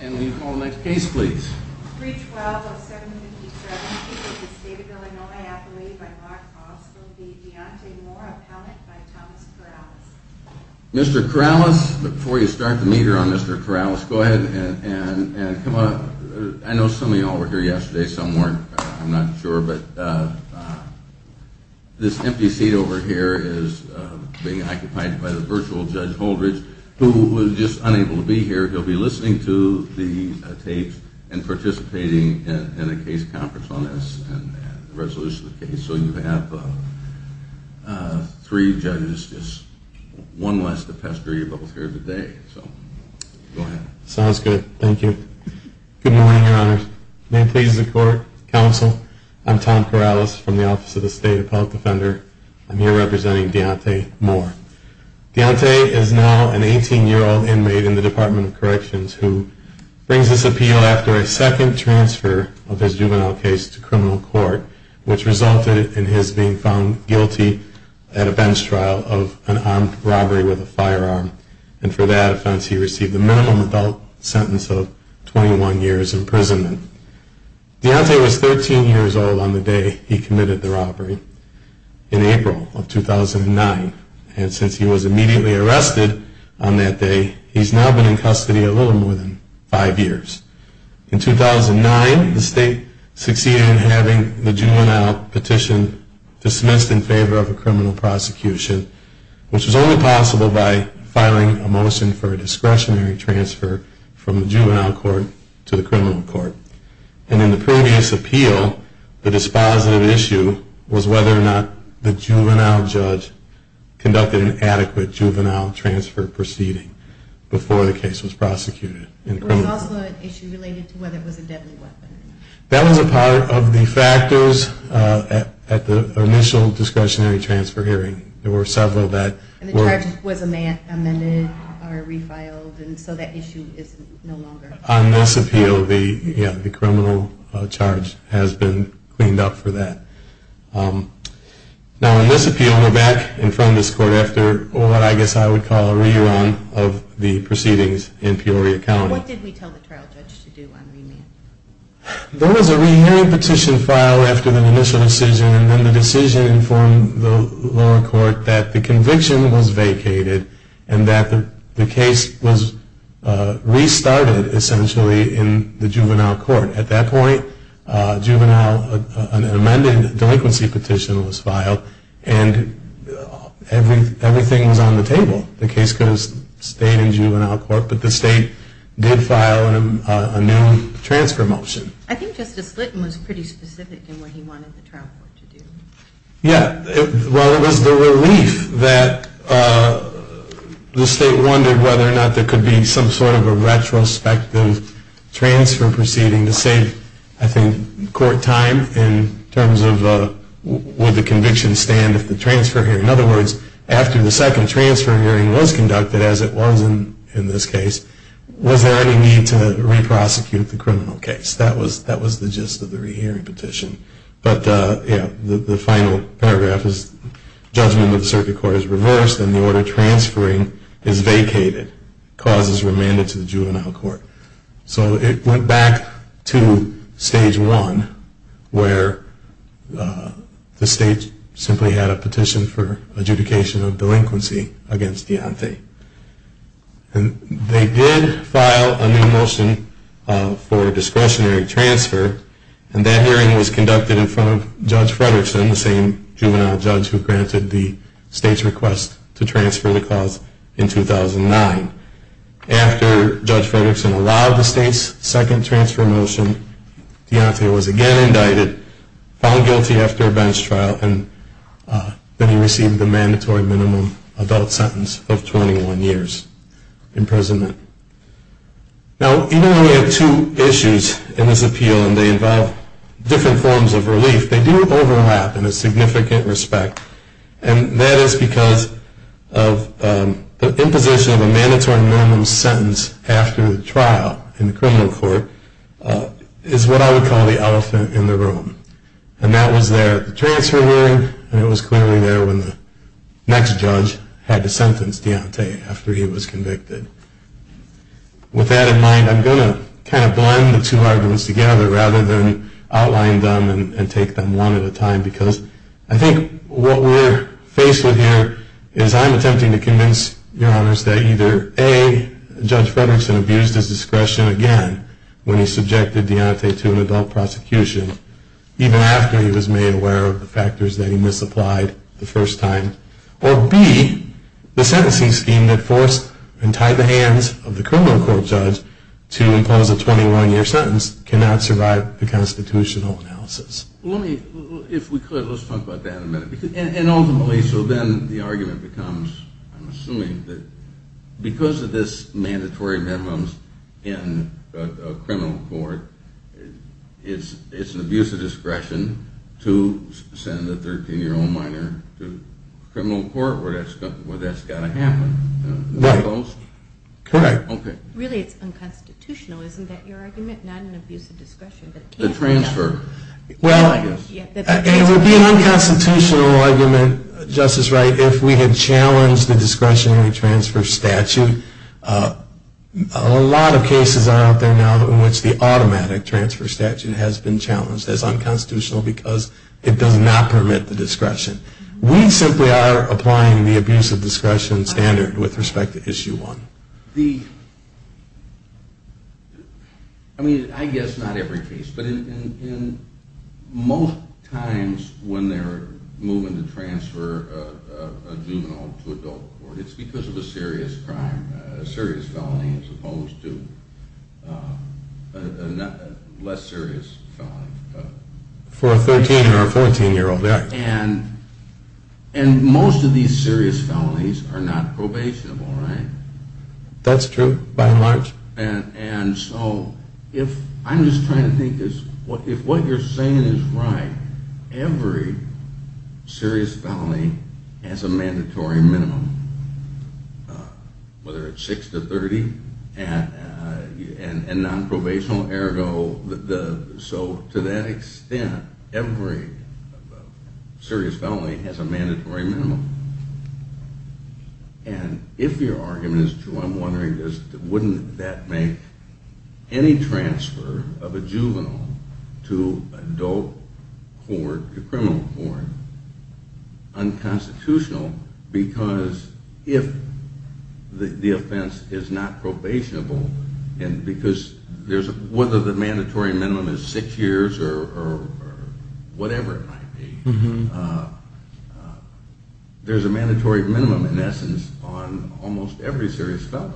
and we call the next case please. 312-0757, this is David Illinois, appellate by Mark Hoss, will be Deontay Moore, appellant by Thomas Corrales. Mr. Corrales, before you start the meter on Mr. Corrales, go ahead and come up. I know some of you all were here yesterday, some weren't, I'm not sure, but this empty seat over here is being occupied by the virtual Judge Holdridge, who was just unable to be here. He'll be listening to the tapes and participating in a case conference on this and the resolution of the case. So you have three judges, just one less to pester you both here today. Sounds good, thank you. Good morning, your honors. May it please the court, counsel, I'm Tom Corrales from the Office of the State Appellate Defender. I'm here representing Deontay Moore. Deontay is now an 18-year-old inmate in the Department of Corrections who brings this appeal after a second transfer of his juvenile case to criminal court, which resulted in his being found guilty at a bench trial of an armed robbery with a firearm. And for that offense, he received a minimum adult sentence of 21 years imprisonment. Deontay was 13 years old on the day he committed the robbery in April of 2009, and since he was immediately arrested on that day, he's now been in custody a little more than five years. In 2009, the state succeeded in having the juvenile petition dismissed in favor of a criminal prosecution, which was only possible by filing a motion for a discretionary transfer from the juvenile court to the criminal court. And in the previous appeal, the dispositive issue was whether or not the juvenile judge conducted an adequate juvenile transfer proceeding before the case was prosecuted. There was also an issue related to whether it was a deadly weapon. That was a part of the factors at the initial discretionary transfer hearing. There were several that were... And the charge was amended or refiled, and so that issue is no longer... Now, on this appeal, the criminal charge has been cleaned up for that. Now, on this appeal, NVAC informed this court after what I guess I would call a re-run of the proceedings in Peoria County. What did we tell the trial judge to do on remand? There was a rehearing petition filed after the initial decision, and then the decision informed the lower court that the conviction was vacated and that the case was restarted, essentially, in the juvenile court. At that point, an amended delinquency petition was filed, and everything was on the table. The case could have stayed in juvenile court, but the state did file a new transfer motion. I think Justice Slitton was pretty specific in what he wanted the trial court to do. Yeah, well, it was the relief that the state wondered whether or not there could be some sort of a retrospective transfer proceeding to save, I think, court time in terms of would the conviction stand if the transfer hearing... In other words, after the second transfer hearing was conducted, as it was in this case, was there any need to re-prosecute the criminal case? That was the gist of the rehearing petition. But, yeah, the final paragraph is judgment of the circuit court is reversed, and the order transferring is vacated. The cause is remanded to the juvenile court. So it went back to stage one, where the state simply had a petition for adjudication of delinquency against Deontay. They did file a new motion for discretionary transfer, and that hearing was conducted in front of Judge Fredrickson, the same juvenile judge who granted the state's request to transfer the cause in 2009. After Judge Fredrickson allowed the state's second transfer motion, Deontay was again indicted, found guilty after a bench trial, and then he received a mandatory minimum adult sentence of 21 years imprisonment. Now, even though we have two issues in this appeal, and they involve different forms of relief, they do overlap in a significant respect. And that is because of the imposition of a mandatory minimum sentence after the trial in the criminal court is what I would call the elephant in the room. And that was there at the transfer hearing, and it was clearly there when the next judge had to sentence Deontay after he was convicted. With that in mind, I'm going to kind of blend the two arguments together rather than outline them and take them one at a time, because I think what we're faced with here is I'm attempting to convince Your Honors that either A, Judge Fredrickson abused his discretion again when he subjected Deontay to an adult prosecution, even after he was made aware of the factors that he misapplied the first time, or B, the sentencing scheme that forced and tied the hands of the criminal court judge to impose a 21-year sentence cannot survive the constitutional analysis. Let's talk about that in a minute. And ultimately, so then the argument becomes, I'm assuming that because of this mandatory minimum in a criminal court, it's an abuse of discretion to send a 13-year-old minor to a criminal court where that's got to happen. Correct. Really it's unconstitutional, isn't that your argument? Not an abuse of discretion. The transfer. Well, it would be an unconstitutional argument, Justice Wright, if we had challenged the discretionary transfer statute. A lot of cases are out there now in which the automatic transfer statute has been challenged as unconstitutional because it does not permit the discretion. We simply are applying the abuse of discretion standard with respect to Issue 1. The, I mean, I guess not every case, but in most times when they're moving to transfer a juvenile to adult court, it's because of a serious crime, a serious felony as opposed to a less serious felony. For a 13 or 14-year-old, yeah. And most of these serious felonies are not probationable, right? That's true, by and large. And so if, I'm just trying to think, if what you're saying is right, every serious felony has a mandatory minimum, whether it's 6 to 30, and nonprobational ergo, so to that extent, every serious felony has a mandatory minimum. And if your argument is true, I'm wondering, wouldn't that make any transfer of a juvenile to adult court, to criminal court, unconstitutional? Because if the offense is not probationable, and because there's, whether the mandatory minimum is 6 years or whatever it might be, there's a mandatory minimum, in essence, on almost every serious felony.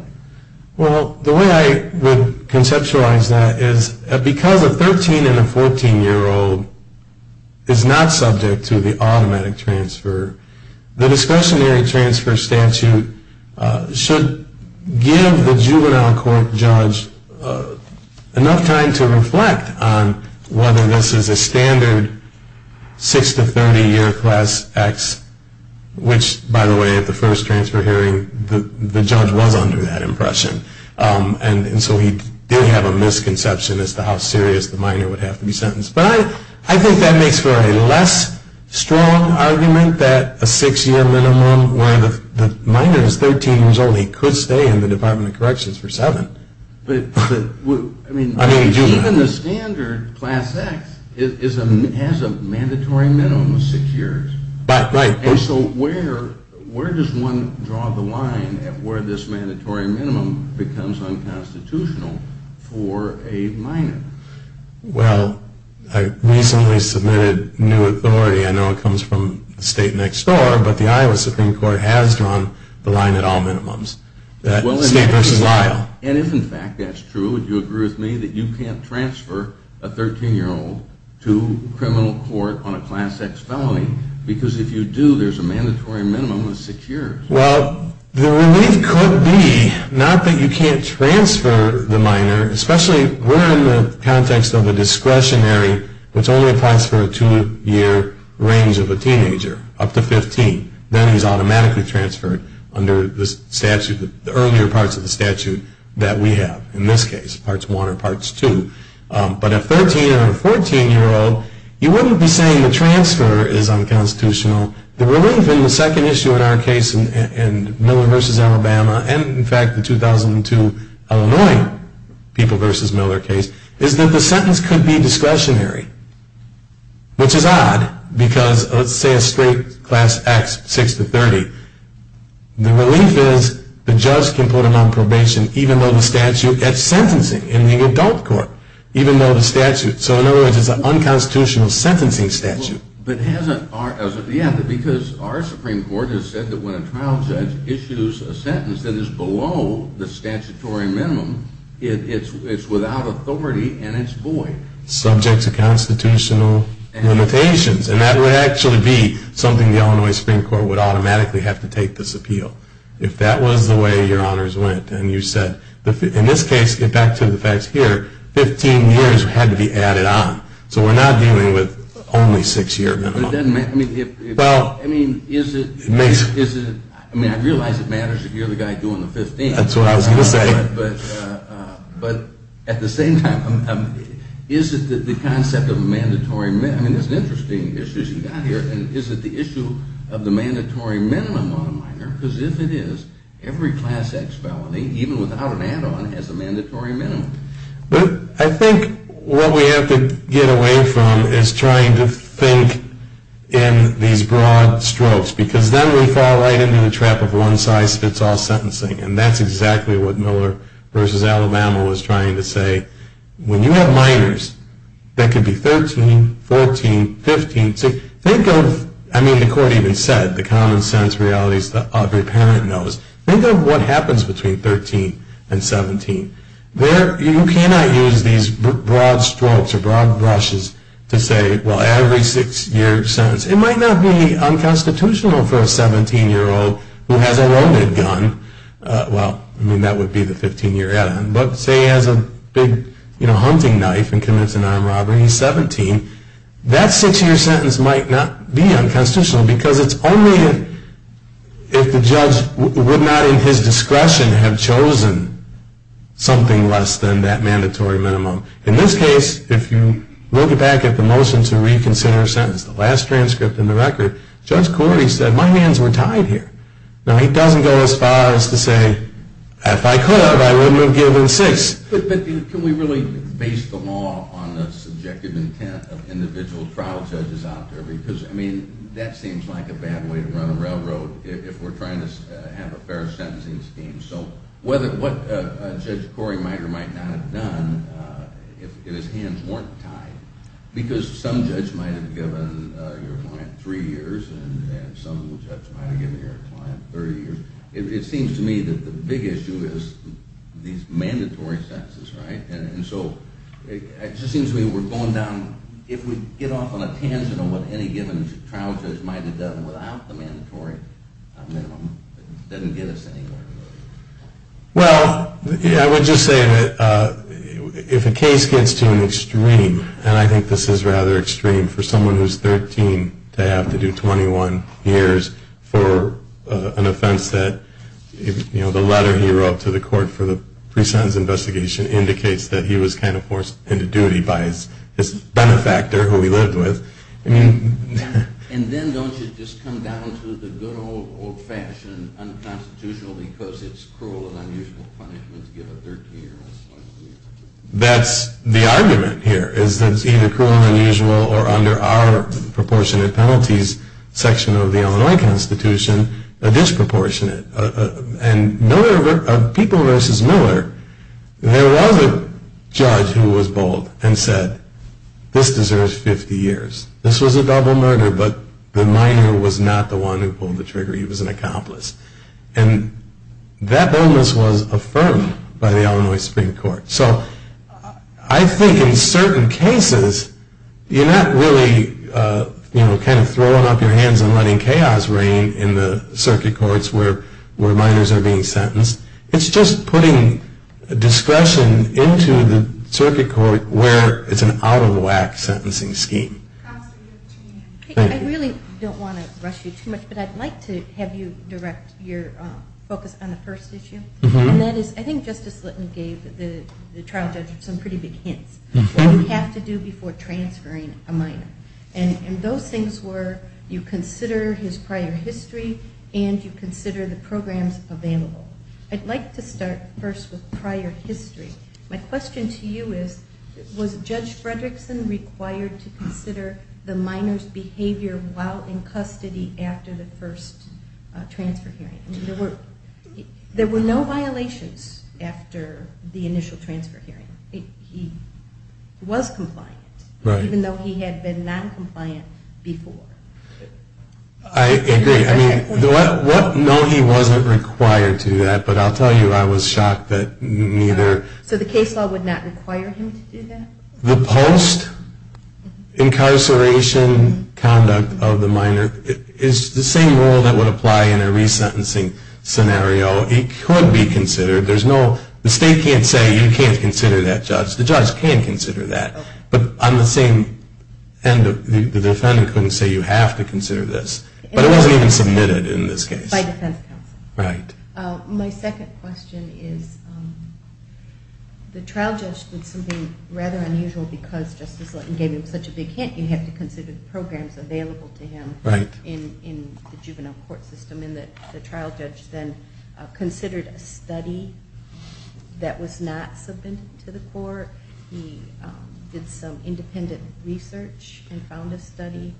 Well, the way I would conceptualize that is, because a 13 and a 14-year-old is not subject to the automatic transfer, the discretionary transfer statute should give the juvenile court judge enough time to reflect on whether this is a standard 6 to 30 year class X, which, by the way, at the first transfer hearing, the judge was under that. And so he did have a misconception as to how serious the minor would have to be sentenced. But I think that makes for a less strong argument that a 6-year minimum, where the minor is 13 years old, he could stay in the Department of Corrections for 7. But even the standard class X has a mandatory minimum of 6 years. Right. And so where does one draw the line at where this mandatory minimum becomes unconstitutional for a minor? Well, I recently submitted new authority. I know it comes from the state next door, but the Iowa Supreme Court has drawn the line at all minimums. State versus Iowa. And if, in fact, that's true, would you agree with me that you can't transfer a 13-year-old to criminal court on a class X felony? Because if you do, there's a mandatory minimum of 6 years. Well, the relief could be not that you can't transfer the minor, especially if we're in the context of a discretionary, which only applies for a 2-year range of a teenager up to 15. Then he's automatically transferred under the statute, the earlier parts of the statute that we have, in this case, Parts 1 or Parts 2. But a 13- or a 14-year-old, you wouldn't be saying the transfer is unconstitutional. The relief in the second issue in our case, in Miller versus Alabama, and in fact, the 2002 Illinois people versus Miller case, is that the sentence could be discretionary. Which is odd, because let's say a straight class X, 6 to 30, the relief is the judge can put him on probation even though the statute gets sentencing in the adult court. Even though the statute, so in other words, it's an unconstitutional sentencing statute. Yeah, because our Supreme Court has said that when a trial judge issues a sentence that is below the statutory minimum, it's without authority and it's void. Subject to constitutional limitations. And that would actually be something the Illinois Supreme Court would automatically have to take this appeal. If that was the way your honors went and you said, in this case, get back to the facts here, 15 years had to be added on. So we're not dealing with only 6-year minimum. I mean, I realize it matters if you're the guy doing the 15. That's what I was going to say. But at the same time, is it the concept of mandatory, I mean, it's an interesting issue you got here. And is it the issue of the mandatory minimum on a minor? Because if it is, every class X felony, even without an add-on, has a mandatory minimum. But I think what we have to get away from is trying to think in these broad strokes. Because then we fall right into the trap of one-size-fits-all sentencing. And that's exactly what Miller v. Alabama was trying to say. When you have minors that could be 13, 14, 15, think of, I mean, the court even said, the common sense realities that every parent knows. Think of what happens between 13 and 17. You cannot use these broad strokes or broad brushes to say, well, every 6-year sentence. It might not be unconstitutional for a 17-year-old who has a loaded gun. Well, I mean, that would be the 15-year add-on. But say he has a big hunting knife and commits an armed robbery, he's 17. That 6-year sentence might not be unconstitutional. Because it's only if the judge would not in his discretion have chosen something less than that mandatory minimum. In this case, if you look back at the motion to reconsider a sentence, the last transcript in the record, Judge Cordy said, my hands were tied here. Now, he doesn't go as far as to say, if I could, I wouldn't have given 6. But can we really base the law on the subjective intent of individual trial judges out there? Because, I mean, that seems like a bad way to run a railroad if we're trying to have a fair sentencing scheme. So what Judge Cory might or might not have done if his hands weren't tied, because some judge might have given your client 3 years and some judge might have given your client 30 years, it seems to me that the big issue is these mandatory sentences, right? And so it just seems to me we're going down, if we get off on a tangent on what any given trial judge might have done without the mandatory minimum, it doesn't get us anywhere. Well, I would just say that if a case gets to an extreme, and I think this is rather extreme for someone who's 13 to have to do 21 years for an offense that, you know, the letter he wrote to the court for the pre-sentence investigation indicates that he was kind of forced into duty by his benefactor who he lived with. And then don't you just come down to the good old old-fashioned unconstitutional because it's cruel and unusual punishment to give a 13-year-old? That's the argument here, is that it's either cruel and unusual or under our proportionate penalties section of the Illinois Constitution, a disproportionate. And Miller, of People v. Miller, there was a judge who was bold and said, this deserves 50 years. This was a double murder, but the minor was not the one who pulled the trigger. He was an accomplice. And that illness was affirmed by the Illinois Supreme Court. So I think in certain cases, you're not really kind of throwing up your hands and letting chaos reign in the circuit courts where minors are being sentenced. It's just putting discretion into the circuit court where it's an out-of-the-whack sentencing scheme. I really don't want to rush you too much, but I'd like to have you direct your focus on the first issue. And that is, I think Justice Litton gave the trial judge some pretty big hints. What you have to do before transferring a minor. And those things were, you consider his prior history and you consider the programs available. I'd like to start first with prior history. My question to you is, was Judge Fredrickson required to consider the minor's behavior while in custody after the first transfer hearing? There were no violations after the initial transfer hearing. He was compliant, even though he had been non-compliant before. I agree. No, he wasn't required to do that. But I'll tell you, I was shocked that neither... So the case law would not require him to do that? The post-incarceration conduct of the minor is the same rule that would apply in a resentencing scenario. It could be considered. The state can't say, you can't consider that, Judge. The judge can consider that. But on the same end, the defendant couldn't say, you have to consider this. But it wasn't even submitted in this case. By defense counsel. Right. My second question is, the trial judge did something rather unusual because Justice Litton gave him such a big hint. You have to consider the programs available to him in the juvenile court system. And the trial judge then considered a study that was not submitted to the court. He did some independent research and found a study.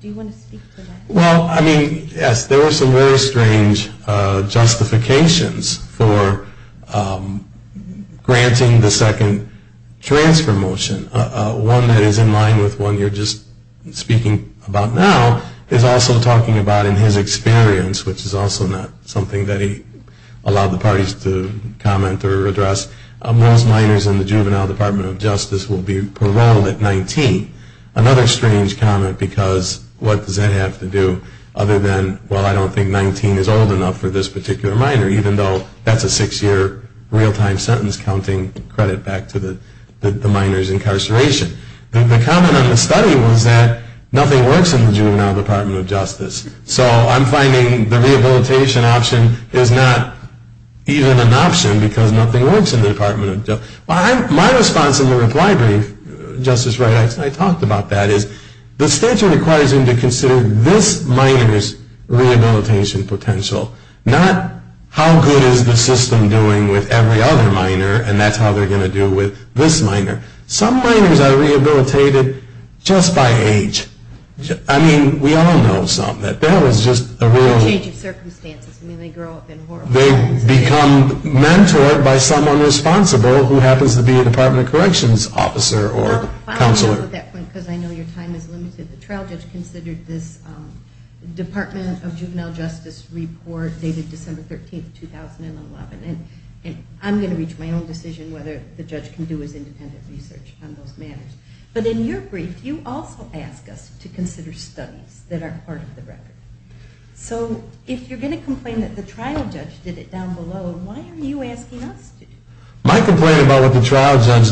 Do you want to speak to that? Well, I mean, yes, there were some very strange justifications for granting the second transfer motion. One that is in line with one you're just speaking about now is also talking about in his experience, which is also not something that he allowed the parties to comment or address. Most minors in the Juvenile Department of Justice will be paroled at 19. Another strange comment because what does that have to do other than, well, I don't think 19 is old enough for this particular minor, even though that's a six-year real-time sentence counting credit back to the minor's incarceration. The comment on the study was that nothing works in the Juvenile Department of Justice. So I'm finding the rehabilitation option is not even an option because nothing works in the Department of Justice. My response in the reply brief, Justice Wright, I talked about that, is the statute requires him to consider this minor's rehabilitation potential, not how good is the system doing with every other minor, and that's how they're going to do with this minor. Some minors are rehabilitated just by age. I mean, we all know some. That was just a real change of circumstances. I mean, they grow up in horrible times. They become mentored by someone responsible who happens to be a Department of Corrections officer or counselor. I'll stop at that point because I know your time is limited. The trial judge considered this Department of Juvenile Justice report dated December 13, 2011, and I'm going to reach my own decision whether the judge can do his independent research on those matters. But in your brief, you also ask us to consider studies that are part of the record. So if you're going to complain that the trial judge did it down below, why are you asking us to do it? My complaint about what the trial judge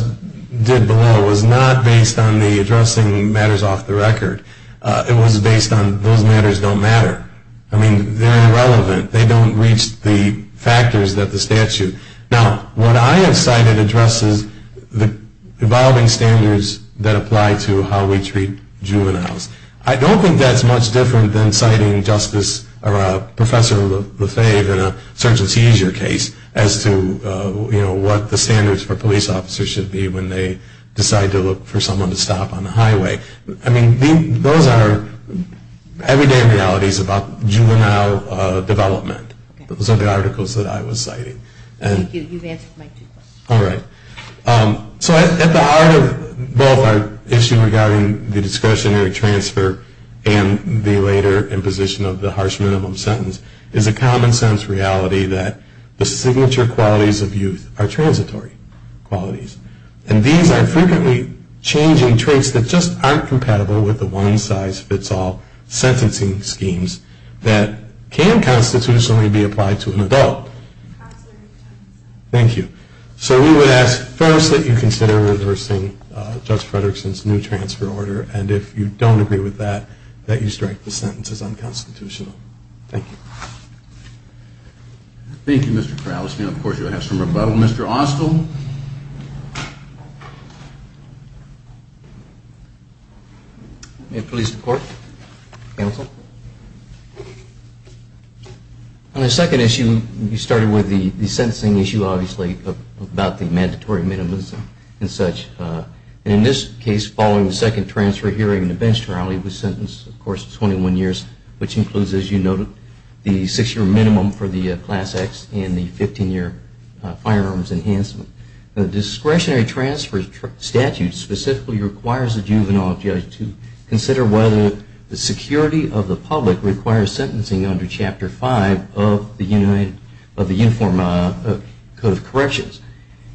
did below was not based on the addressing matters off the record. It was based on those matters don't matter. I mean, they're irrelevant. They don't reach the factors that the statute. Now, what I have cited addresses the evolving standards that apply to how we treat juveniles. I don't think that's much different than citing Justice or Professor Lefebvre in a search and seizure case as to, you know, what the standards for police officers should be when they decide to look for someone to stop on the highway. I mean, those are everyday realities about juvenile development. Those are the articles that I was citing. Thank you. You've answered my two questions. All right. So at the heart of both our issue regarding the discretionary transfer and the later imposition of the harsh minimum sentence is a common sense reality that the signature qualities of youth are transitory qualities. And these are frequently changing traits that just aren't compatible with the one-size-fits-all sentencing schemes that can constitutionally be applied to an adult. Thank you. So we would ask first that you consider reversing Judge Fredrickson's new transfer order, and if you don't agree with that, that you strike the sentence as unconstitutional. Thank you. Thank you, Mr. Kraus. Now, of course, you'll have some rebuttal. Mr. Austell? Thank you. May it please the Court? Counsel? On the second issue, you started with the sentencing issue, obviously, about the mandatory minimums and such. And in this case, following the second transfer hearing, the bench trial, he was sentenced, of course, to 21 years, which includes, as you noted, the six-year minimum for the Class X and the 15-year firearms enhancement. The discretionary transfer statute specifically requires the juvenile judge to consider whether the security of the public requires sentencing under Chapter 5 of the Uniform Code of Corrections.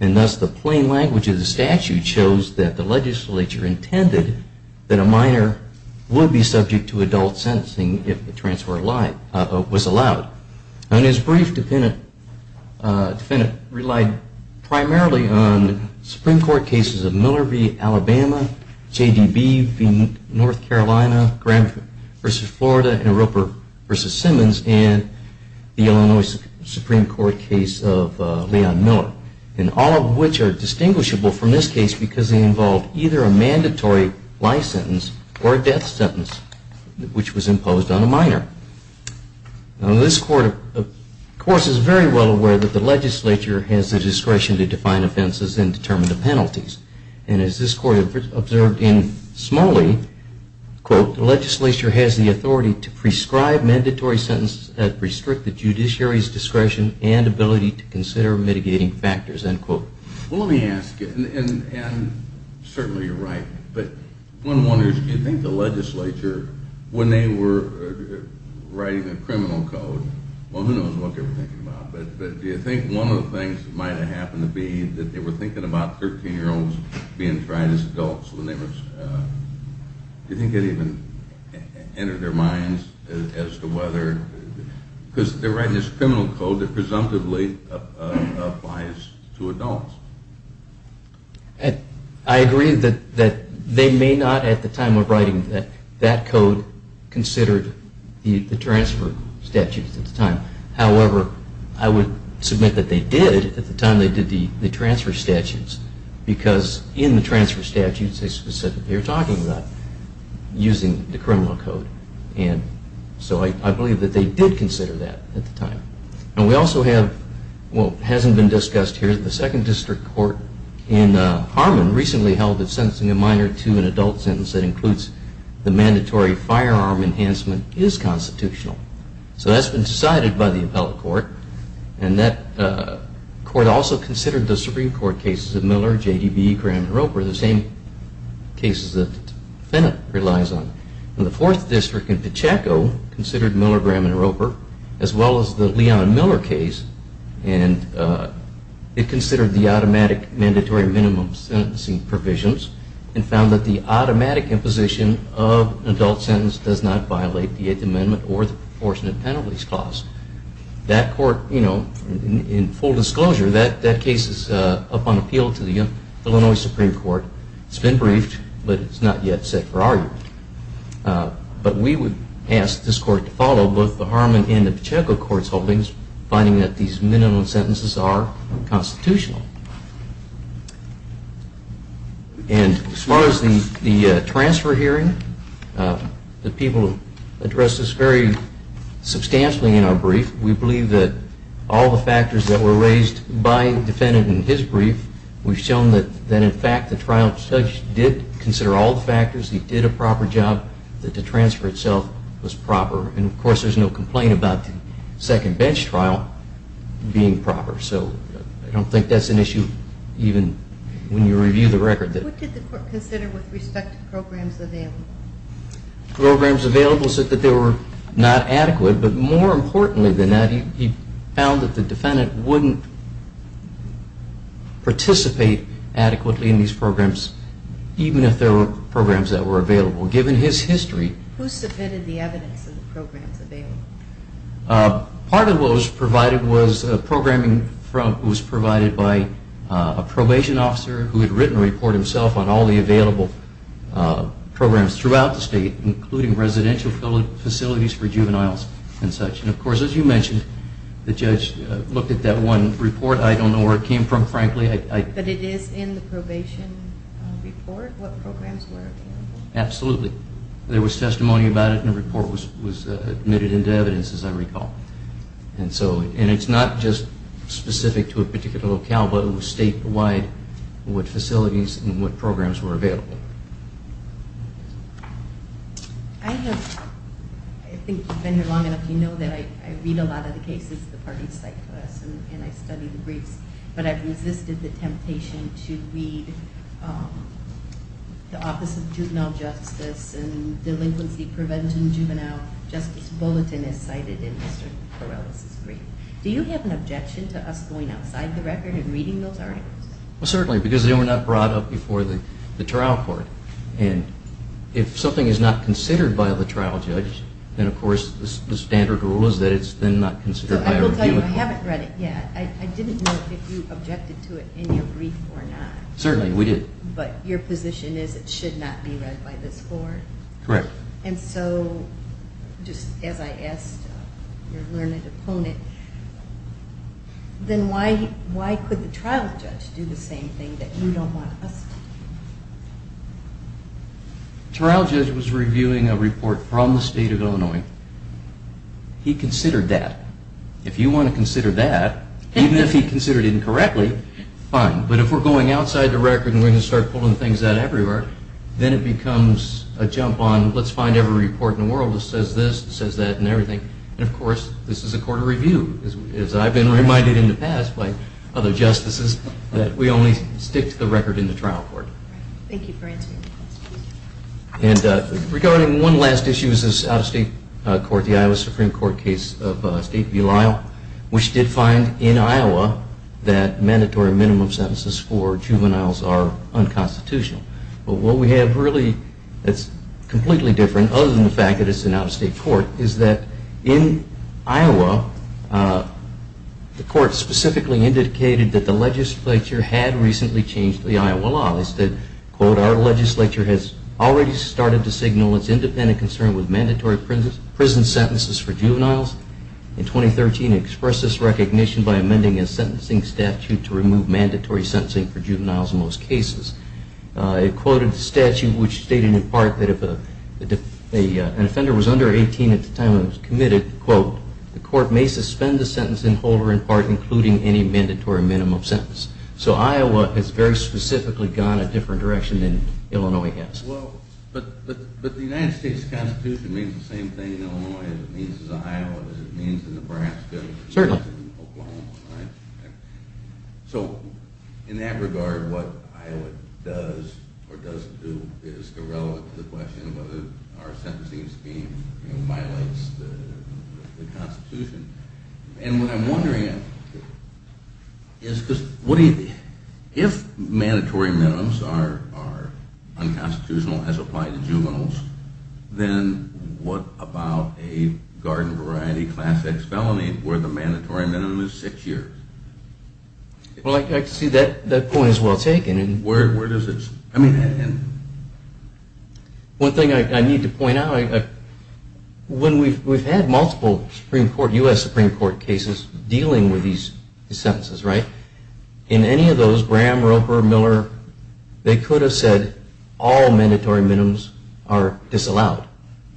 And thus, the plain language of the statute shows that the legislature intended that a minor would be subject to adult sentencing if the transfer was allowed. And his brief defendant relied primarily on Supreme Court cases of Miller v. Alabama, JDB v. North Carolina, Graham v. Florida, and Roper v. Simmons, and the Illinois Supreme Court case of Leon Miller, and all of which are distinguishable from this case because they involved either a mandatory life sentence or a death sentence, which was imposed on a minor. Now, this Court, of course, is very well aware that the legislature has the discretion to define offenses and determine the penalties. And as this Court observed in Smalley, quote, the legislature has the authority to prescribe mandatory sentences that restrict the judiciary's discretion and ability to consider mitigating factors, end quote. Well, let me ask you, and certainly you're right, but one wonders, do you think the legislature, when they were writing the criminal code, well, who knows what they were thinking about, but do you think one of the things that might have happened to be that they were thinking about 13-year-olds being tried as adults when they were, do you think it even entered their minds as to whether, because they're writing this I agree that they may not at the time of writing that that code considered the transfer statutes at the time. However, I would submit that they did at the time they did the transfer statutes because in the transfer statutes they specifically are talking about using the criminal code. And so I believe that they did consider that at the time. And we also have, well, it hasn't been discussed here, the Second District Court in Harmon recently held that sentencing a minor to an adult sentence that includes the mandatory firearm enhancement is constitutional. So that's been decided by the appellate court, and that court also considered the Supreme Court cases of Miller, J.D.B., Graham, and Roper, the same cases that Fennett relies on. And the Fourth District in Pacheco considered Miller, Graham, and Roper as well as the Leon and Miller case, and it considered the automatic mandatory minimum sentencing provisions and found that the automatic imposition of an adult sentence does not violate the Eighth Amendment or the proportionate penalties clause. That court, you know, in full disclosure, that case is up on appeal to the Illinois Supreme Court. It's been briefed, but it's not yet set for argument. But we would ask this court to follow both the Harmon and the Pacheco courts' holdings, finding that these minimum sentences are constitutional. And as far as the transfer hearing, the people addressed this very substantially in our brief. We believe that all the factors that were raised by the defendant in his brief, we've shown that, in fact, the trial judge did consider all the factors. He did a proper job, that the transfer itself was proper. And, of course, there's no complaint about the second bench trial being proper. So I don't think that's an issue even when you review the record. What did the court consider with respect to programs available? Programs available said that they were not adequate. But more importantly than that, he found that the defendant wouldn't participate adequately in these programs, even if there were programs that were available. Given his history. Who submitted the evidence of the programs available? Part of what was provided was programming that was provided by a probation officer who had written a report himself on all the available programs throughout the state, including residential facilities for juveniles and such. And, of course, as you mentioned, the judge looked at that one report. I don't know where it came from, frankly. But it is in the probation report, what programs were available? Absolutely. There was testimony about it, and the report was admitted into evidence, as I recall. And it's not just specific to a particular locale, but it was statewide, what facilities and what programs were available. I have, I think you've been here long enough, you know that I read a lot of the cases the parties cite to us, and I study the briefs. But I've resisted the temptation to read the Office of Juvenile Justice and Delinquency Prevention Juvenile Justice Bulletin, as cited in Mr. Corrales' brief. Do you have an objection to us going outside the record and reading those articles? Well, certainly, because they were not brought up before the trial court. And if something is not considered by the trial judge, then, of course, the standard rule is that it's then not considered by a reviewer. I will tell you, I haven't read it yet. I didn't know if you objected to it in your brief or not. Certainly, we did. But your position is it should not be read by this court? Correct. And so, just as I asked your learned opponent, then why could the trial judge do the same thing that you don't want us to do? The trial judge was reviewing a report from the state of Illinois. He considered that. If you want to consider that, even if he considered it incorrectly, fine. But if we're going outside the record and we're going to start pulling things out everywhere, then it becomes a jump on let's find every report in the world that says this, says that, and everything. And, of course, this is a court of review, as I've been reminded in the past by other justices, that we only stick to the record in the trial court. Thank you for answering the question. And regarding one last issue, this is out-of-state court, the Iowa Supreme Court case of State v. Lyle, which did find in Iowa that mandatory minimum sentences for juveniles are unconstitutional. But what we have really that's completely different, other than the fact that it's an out-of-state court, is that in Iowa, the court specifically indicated that the legislature had recently changed the Iowa law. They said, quote, our legislature has already started to signal its independent concern with mandatory prison sentences for juveniles. In 2013, it expressed this recognition by amending a sentencing statute to remove mandatory sentencing for juveniles in most cases. It quoted the statute, which stated, in part, that if an offender was under 18 at the time it was committed, quote, the court may suspend the sentencing holder, in part, including any mandatory minimum sentence. So Iowa has very specifically gone a different direction than Illinois has. But the United States Constitution means the same thing in Illinois as it means in Iowa, as it means in Nebraska, as it means in Oklahoma, right? So in that regard, what Iowa does or doesn't do is irrelevant to the question of whether our sentencing scheme violates the Constitution. And what I'm wondering is, if mandatory minimums are unconstitutional as applied to juveniles, then what about a garden variety class X felony where the mandatory minimum is six years? Well, I see that point as well taken. One thing I need to point out, when we've had multiple U.S. Supreme Court cases dealing with these sentences, right? In any of those, Graham, Roper, Miller, they could have said all mandatory minimums are disallowed.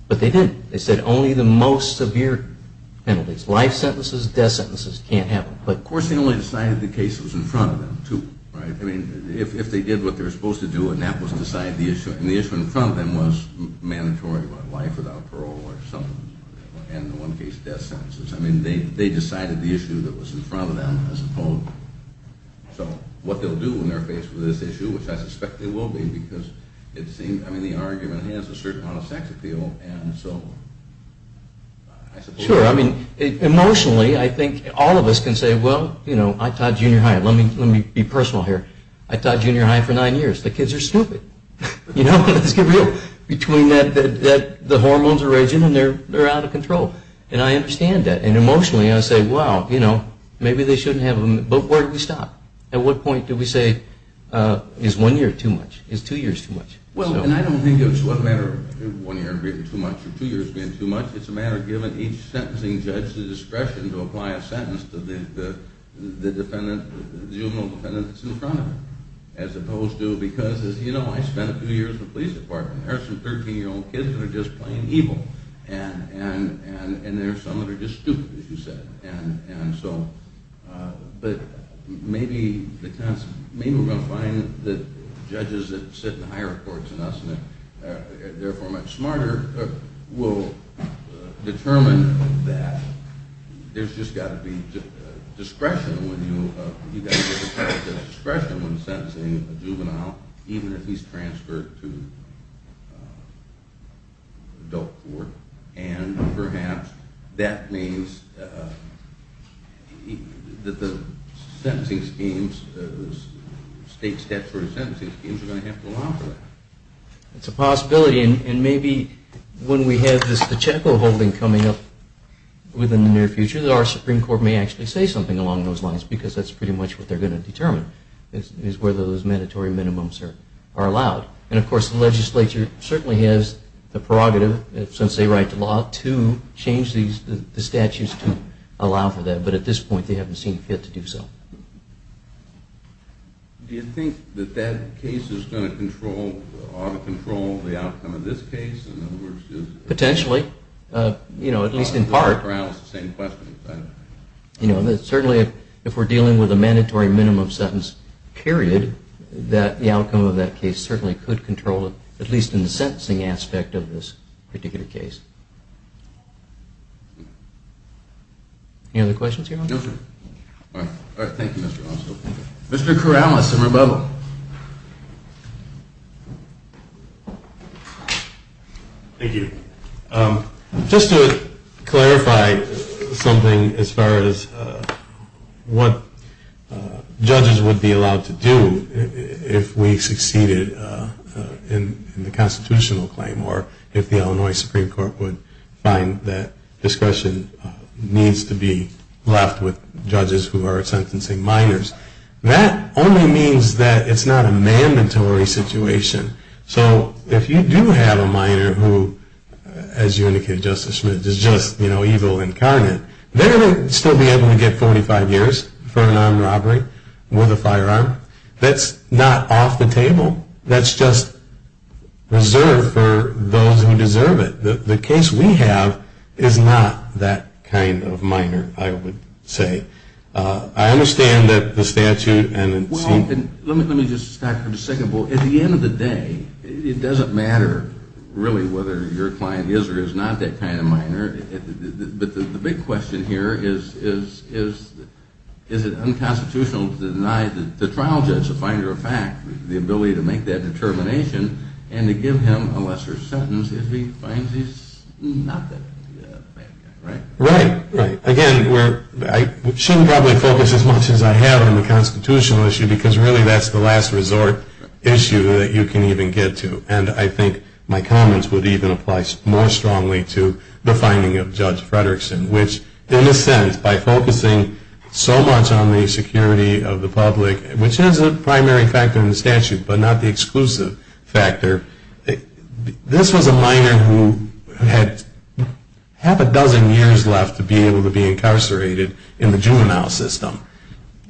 But they didn't. They said only the most severe penalties, life sentences, death sentences, can't have them. Of course, they only decided the case that was in front of them, too, right? I mean, if they did what they were supposed to do, and that was to decide the issue. And the issue in front of them was mandatory, what, life without parole or something? And in one case, death sentences. I mean, they decided the issue that was in front of them, I suppose. So what they'll do when they're faced with this issue, which I suspect they will be, because it seems, I mean, the argument has a certain amount of sex appeal. Sure. I mean, emotionally, I think all of us can say, well, you know, I taught junior high. Let me be personal here. I taught junior high for nine years. The kids are stupid. You know, let's get real. Between that the hormones are raging and they're out of control. And I understand that. And emotionally, I say, well, you know, maybe they shouldn't have them. But where do we stop? At what point do we say, is one year too much? Is two years too much? Well, and I don't think it's a matter of one year being too much or two years being too much. It's a matter of giving each sentencing judge the discretion to apply a sentence to the juvenile defendant that's in front of them. As opposed to, because, as you know, I spent two years in the police department. There are some 13-year-old kids that are just plain evil. And there are some that are just stupid, as you said. But maybe we're going to find that judges that sit in higher courts than us, and therefore much smarter, will determine that there's just got to be discretion when you, you've got to have discretion when sentencing a juvenile, even if he's transferred to adult court. And perhaps that means that the sentencing schemes, state steps for the sentencing schemes, are going to have to allow for that. It's a possibility. And maybe when we have this Pacheco holding coming up within the near future, our Supreme Court may actually say something along those lines, because that's pretty much what they're going to determine, is whether those mandatory minimums are allowed. And of course, the legislature certainly has the prerogative, since they write the law, to change the statutes to allow for that. But at this point, they haven't seen fit to do so. Do you think that that case is going to control, ought to control, the outcome of this case? Potentially. You know, at least in part. You know, certainly if we're dealing with a mandatory minimum sentence, period, that the outcome of that case certainly could control it, at least in the sentencing aspect of this particular case. Any other questions here? No, sir. All right. Thank you, Mr. Ossoff. Mr. Corrales and Rebello. Thank you. Just to clarify something as far as what judges would be allowed to do if we succeeded in the constitutional claim, or if the Illinois Supreme Court would find that discretion needs to be left with judges who are sentencing minors. That only means that it's not a mandatory situation. So if you do have a minor who, as you indicated, Justice Schmitz, is just, you know, evil incarnate, they're going to still be able to get 45 years for a non-robbery with a firearm. That's not off the table. That's just reserved for those who deserve it. The case we have is not that kind of minor, I would say. I understand that the statute and the statute. Let me just start from the second bullet. At the end of the day, it doesn't matter really whether your client is or is not that kind of minor. But the big question here is, is it unconstitutional to deny the trial judge a finder of fact, the ability to make that determination, and to give him a lesser sentence if he finds he's not that kind of minor, right? Right. Again, I shouldn't probably focus as much as I have on the constitutional issue, because really that's the last resort issue that you can even get to. And I think my comments would even apply more strongly to the finding of Judge Fredrickson, which, in a sense, by focusing so much on the security of the public, which is a primary factor in the statute but not the exclusive factor, this was a minor who had half a dozen years left to be able to be incarcerated in the juvenile system.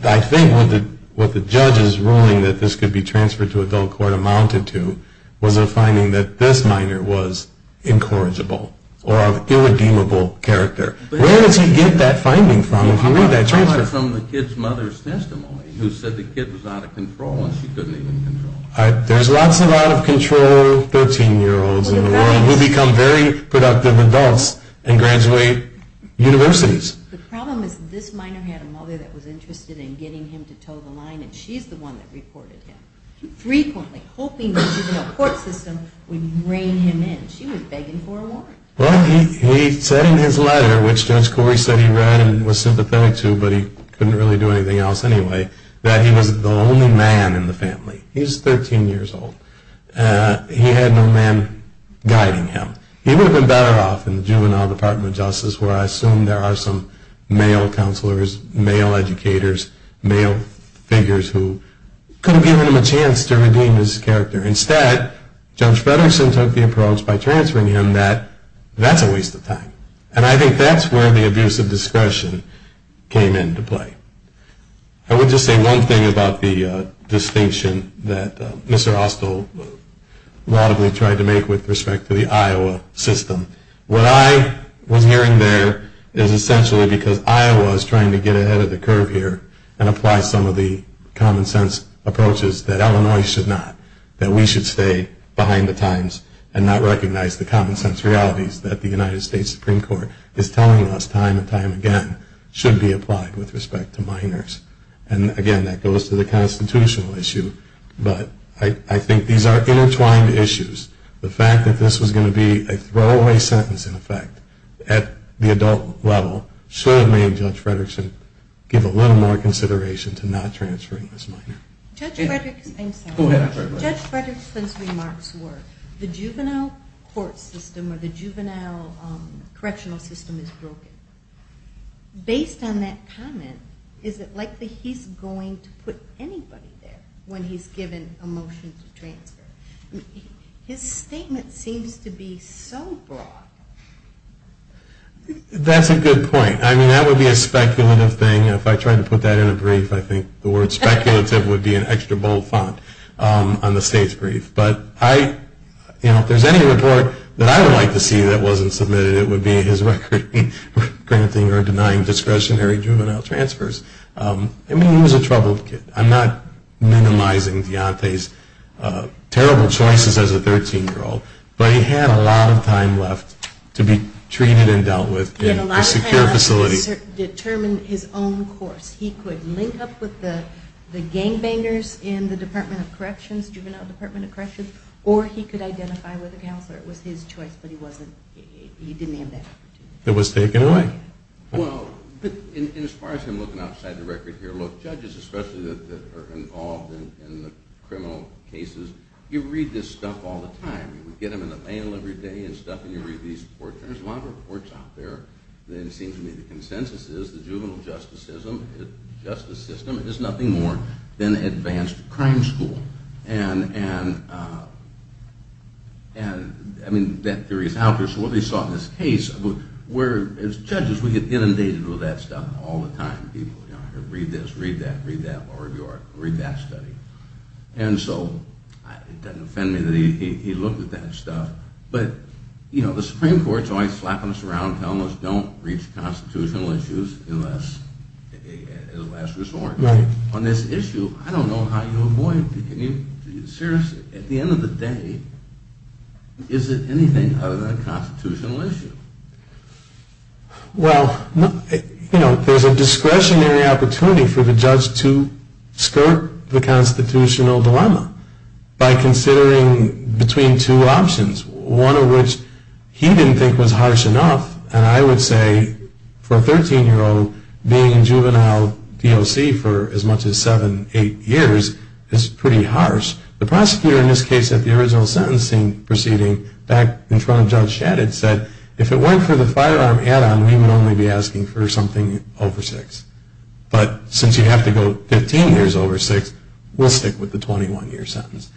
I think what the judge's ruling that this could be transferred to adult court amounted to was a finding that this minor was incorrigible or of irredeemable character. Where does he get that finding from if he made that transfer? He got it from the kid's mother's testimony, who said the kid was out of control and she couldn't even control him. There's lots of out-of-control 13-year-olds in the world who become very productive adults and graduate universities. The problem is this minor had a mother that was interested in getting him to toe the line, and she's the one that reported him, frequently, hoping that juvenile court system would rein him in. She was begging for a warrant. Well, he said in his letter, which Judge Corey said he read and was sympathetic to, but he couldn't really do anything else anyway, that he was the only man in the family. He's 13 years old. He had no man guiding him. He would have been better off in the juvenile department of justice where I assume there are some male counselors, male educators, male figures who could have given him a chance to redeem his character. Instead, Judge Fredersen took the approach by transferring him that that's a waste of time. And I think that's where the abuse of discretion came into play. I would just say one thing about the distinction that Mr. Austell laudably tried to make with respect to the Iowa system. What I was hearing there is essentially because Iowa is trying to get ahead of the curve here and apply some of the common-sense approaches that Illinois should not, that we should stay behind the times and not recognize the common-sense realities that the United States Supreme Court is telling us time and time again should be applied with respect to minors. And again, that goes to the constitutional issue, but I think these are intertwined issues. The fact that this was going to be a throwaway sentence in effect at the adult level should have made Judge Fredersen give a little more consideration to not transferring this minor. Judge Fredersen's remarks were the juvenile court system or the juvenile correctional system is broken. Based on that comment, is it likely he's going to put anybody there when he's given a motion to transfer? His statement seems to be so broad. That's a good point. I mean, that would be a speculative thing. If I tried to put that in a brief, I think the word speculative would be an extra bold font on the state's brief. But if there's any report that I would like to see that wasn't submitted, it would be his granting or denying discretionary juvenile transfers. I mean, he was a troubled kid. I'm not minimizing Deontay's terrible choices as a 13-year-old, but he had a lot of time left to be treated and dealt with in a secure facility. He could determine his own course. He could link up with the gangbangers in the juvenile department of corrections, or he could identify with a counselor. It was his choice, but he didn't have that opportunity. It was taken away. Well, as far as him looking outside the record here, look, judges especially that are involved in the criminal cases, you read this stuff all the time. You get them in the mail every day and stuff, and you read these reports. There's a lot of reports out there that it seems to me the consensus is the juvenile justice system is nothing more than advanced crime school. And I mean, that theory is out there. So what they saw in this case, where as judges we get inundated with that stuff all the time. Read this, read that, read that, read that study. And so it doesn't offend me that he looked at that stuff. But, you know, the Supreme Court is always slapping us around telling us don't reach constitutional issues unless it's a last resort. Right. On this issue, I don't know how you avoid it. Seriously, at the end of the day, is it anything other than a constitutional issue? Well, you know, there's a discretionary opportunity for the judge to skirt the constitutional dilemma by considering between two options, one of which he didn't think was harsh enough. And I would say for a 13-year-old, being in juvenile DOC for as much as seven, eight years is pretty harsh. The prosecutor in this case at the original sentencing proceeding back in front of Judge Shadid said, if it weren't for the firearm add-on, we would only be asking for something over six. But since you have to go 15 years over six, we'll stick with the 21-year sentence.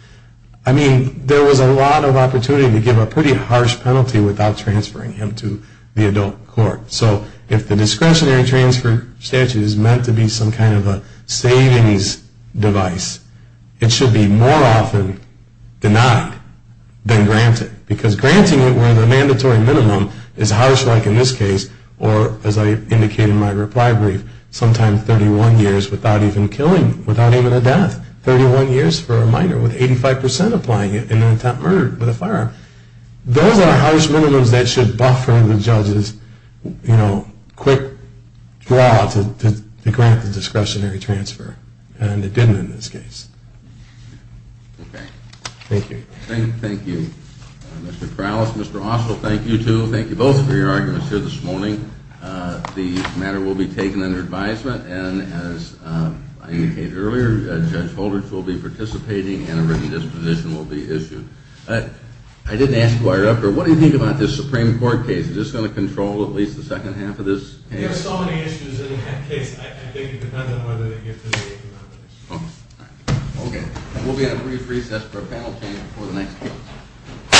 I mean, there was a lot of opportunity to give a pretty harsh penalty without transferring him to the adult court. So if the discretionary transfer statute is meant to be some kind of a savings device, it should be more often denied than granted. Because granting it where the mandatory minimum is harsh, like in this case, or as I indicated in my reply brief, sometimes 31 years without even killing, without even a death. 31 years for a minor with 85% applying it in an attempt murdered with a firearm. Those are harsh minimums that should buffer the judge's quick draw to grant the discretionary transfer. And it didn't in this case. Okay. Thank you. Thank you. Mr. Kralos, Mr. Oswald, thank you too. Thank you both for your arguments here this morning. The matter will be taken under advisement. And as I indicated earlier, Judge Holder will be participating and a written disposition will be issued. I didn't ask you to wire it up, but what do you think about this Supreme Court case? Is this going to control at least the second half of this case? There are so many issues in that case. I think it depends on whether they get to the eighth amendment. Okay. We'll be at a brief recess for a panel meeting before the next case.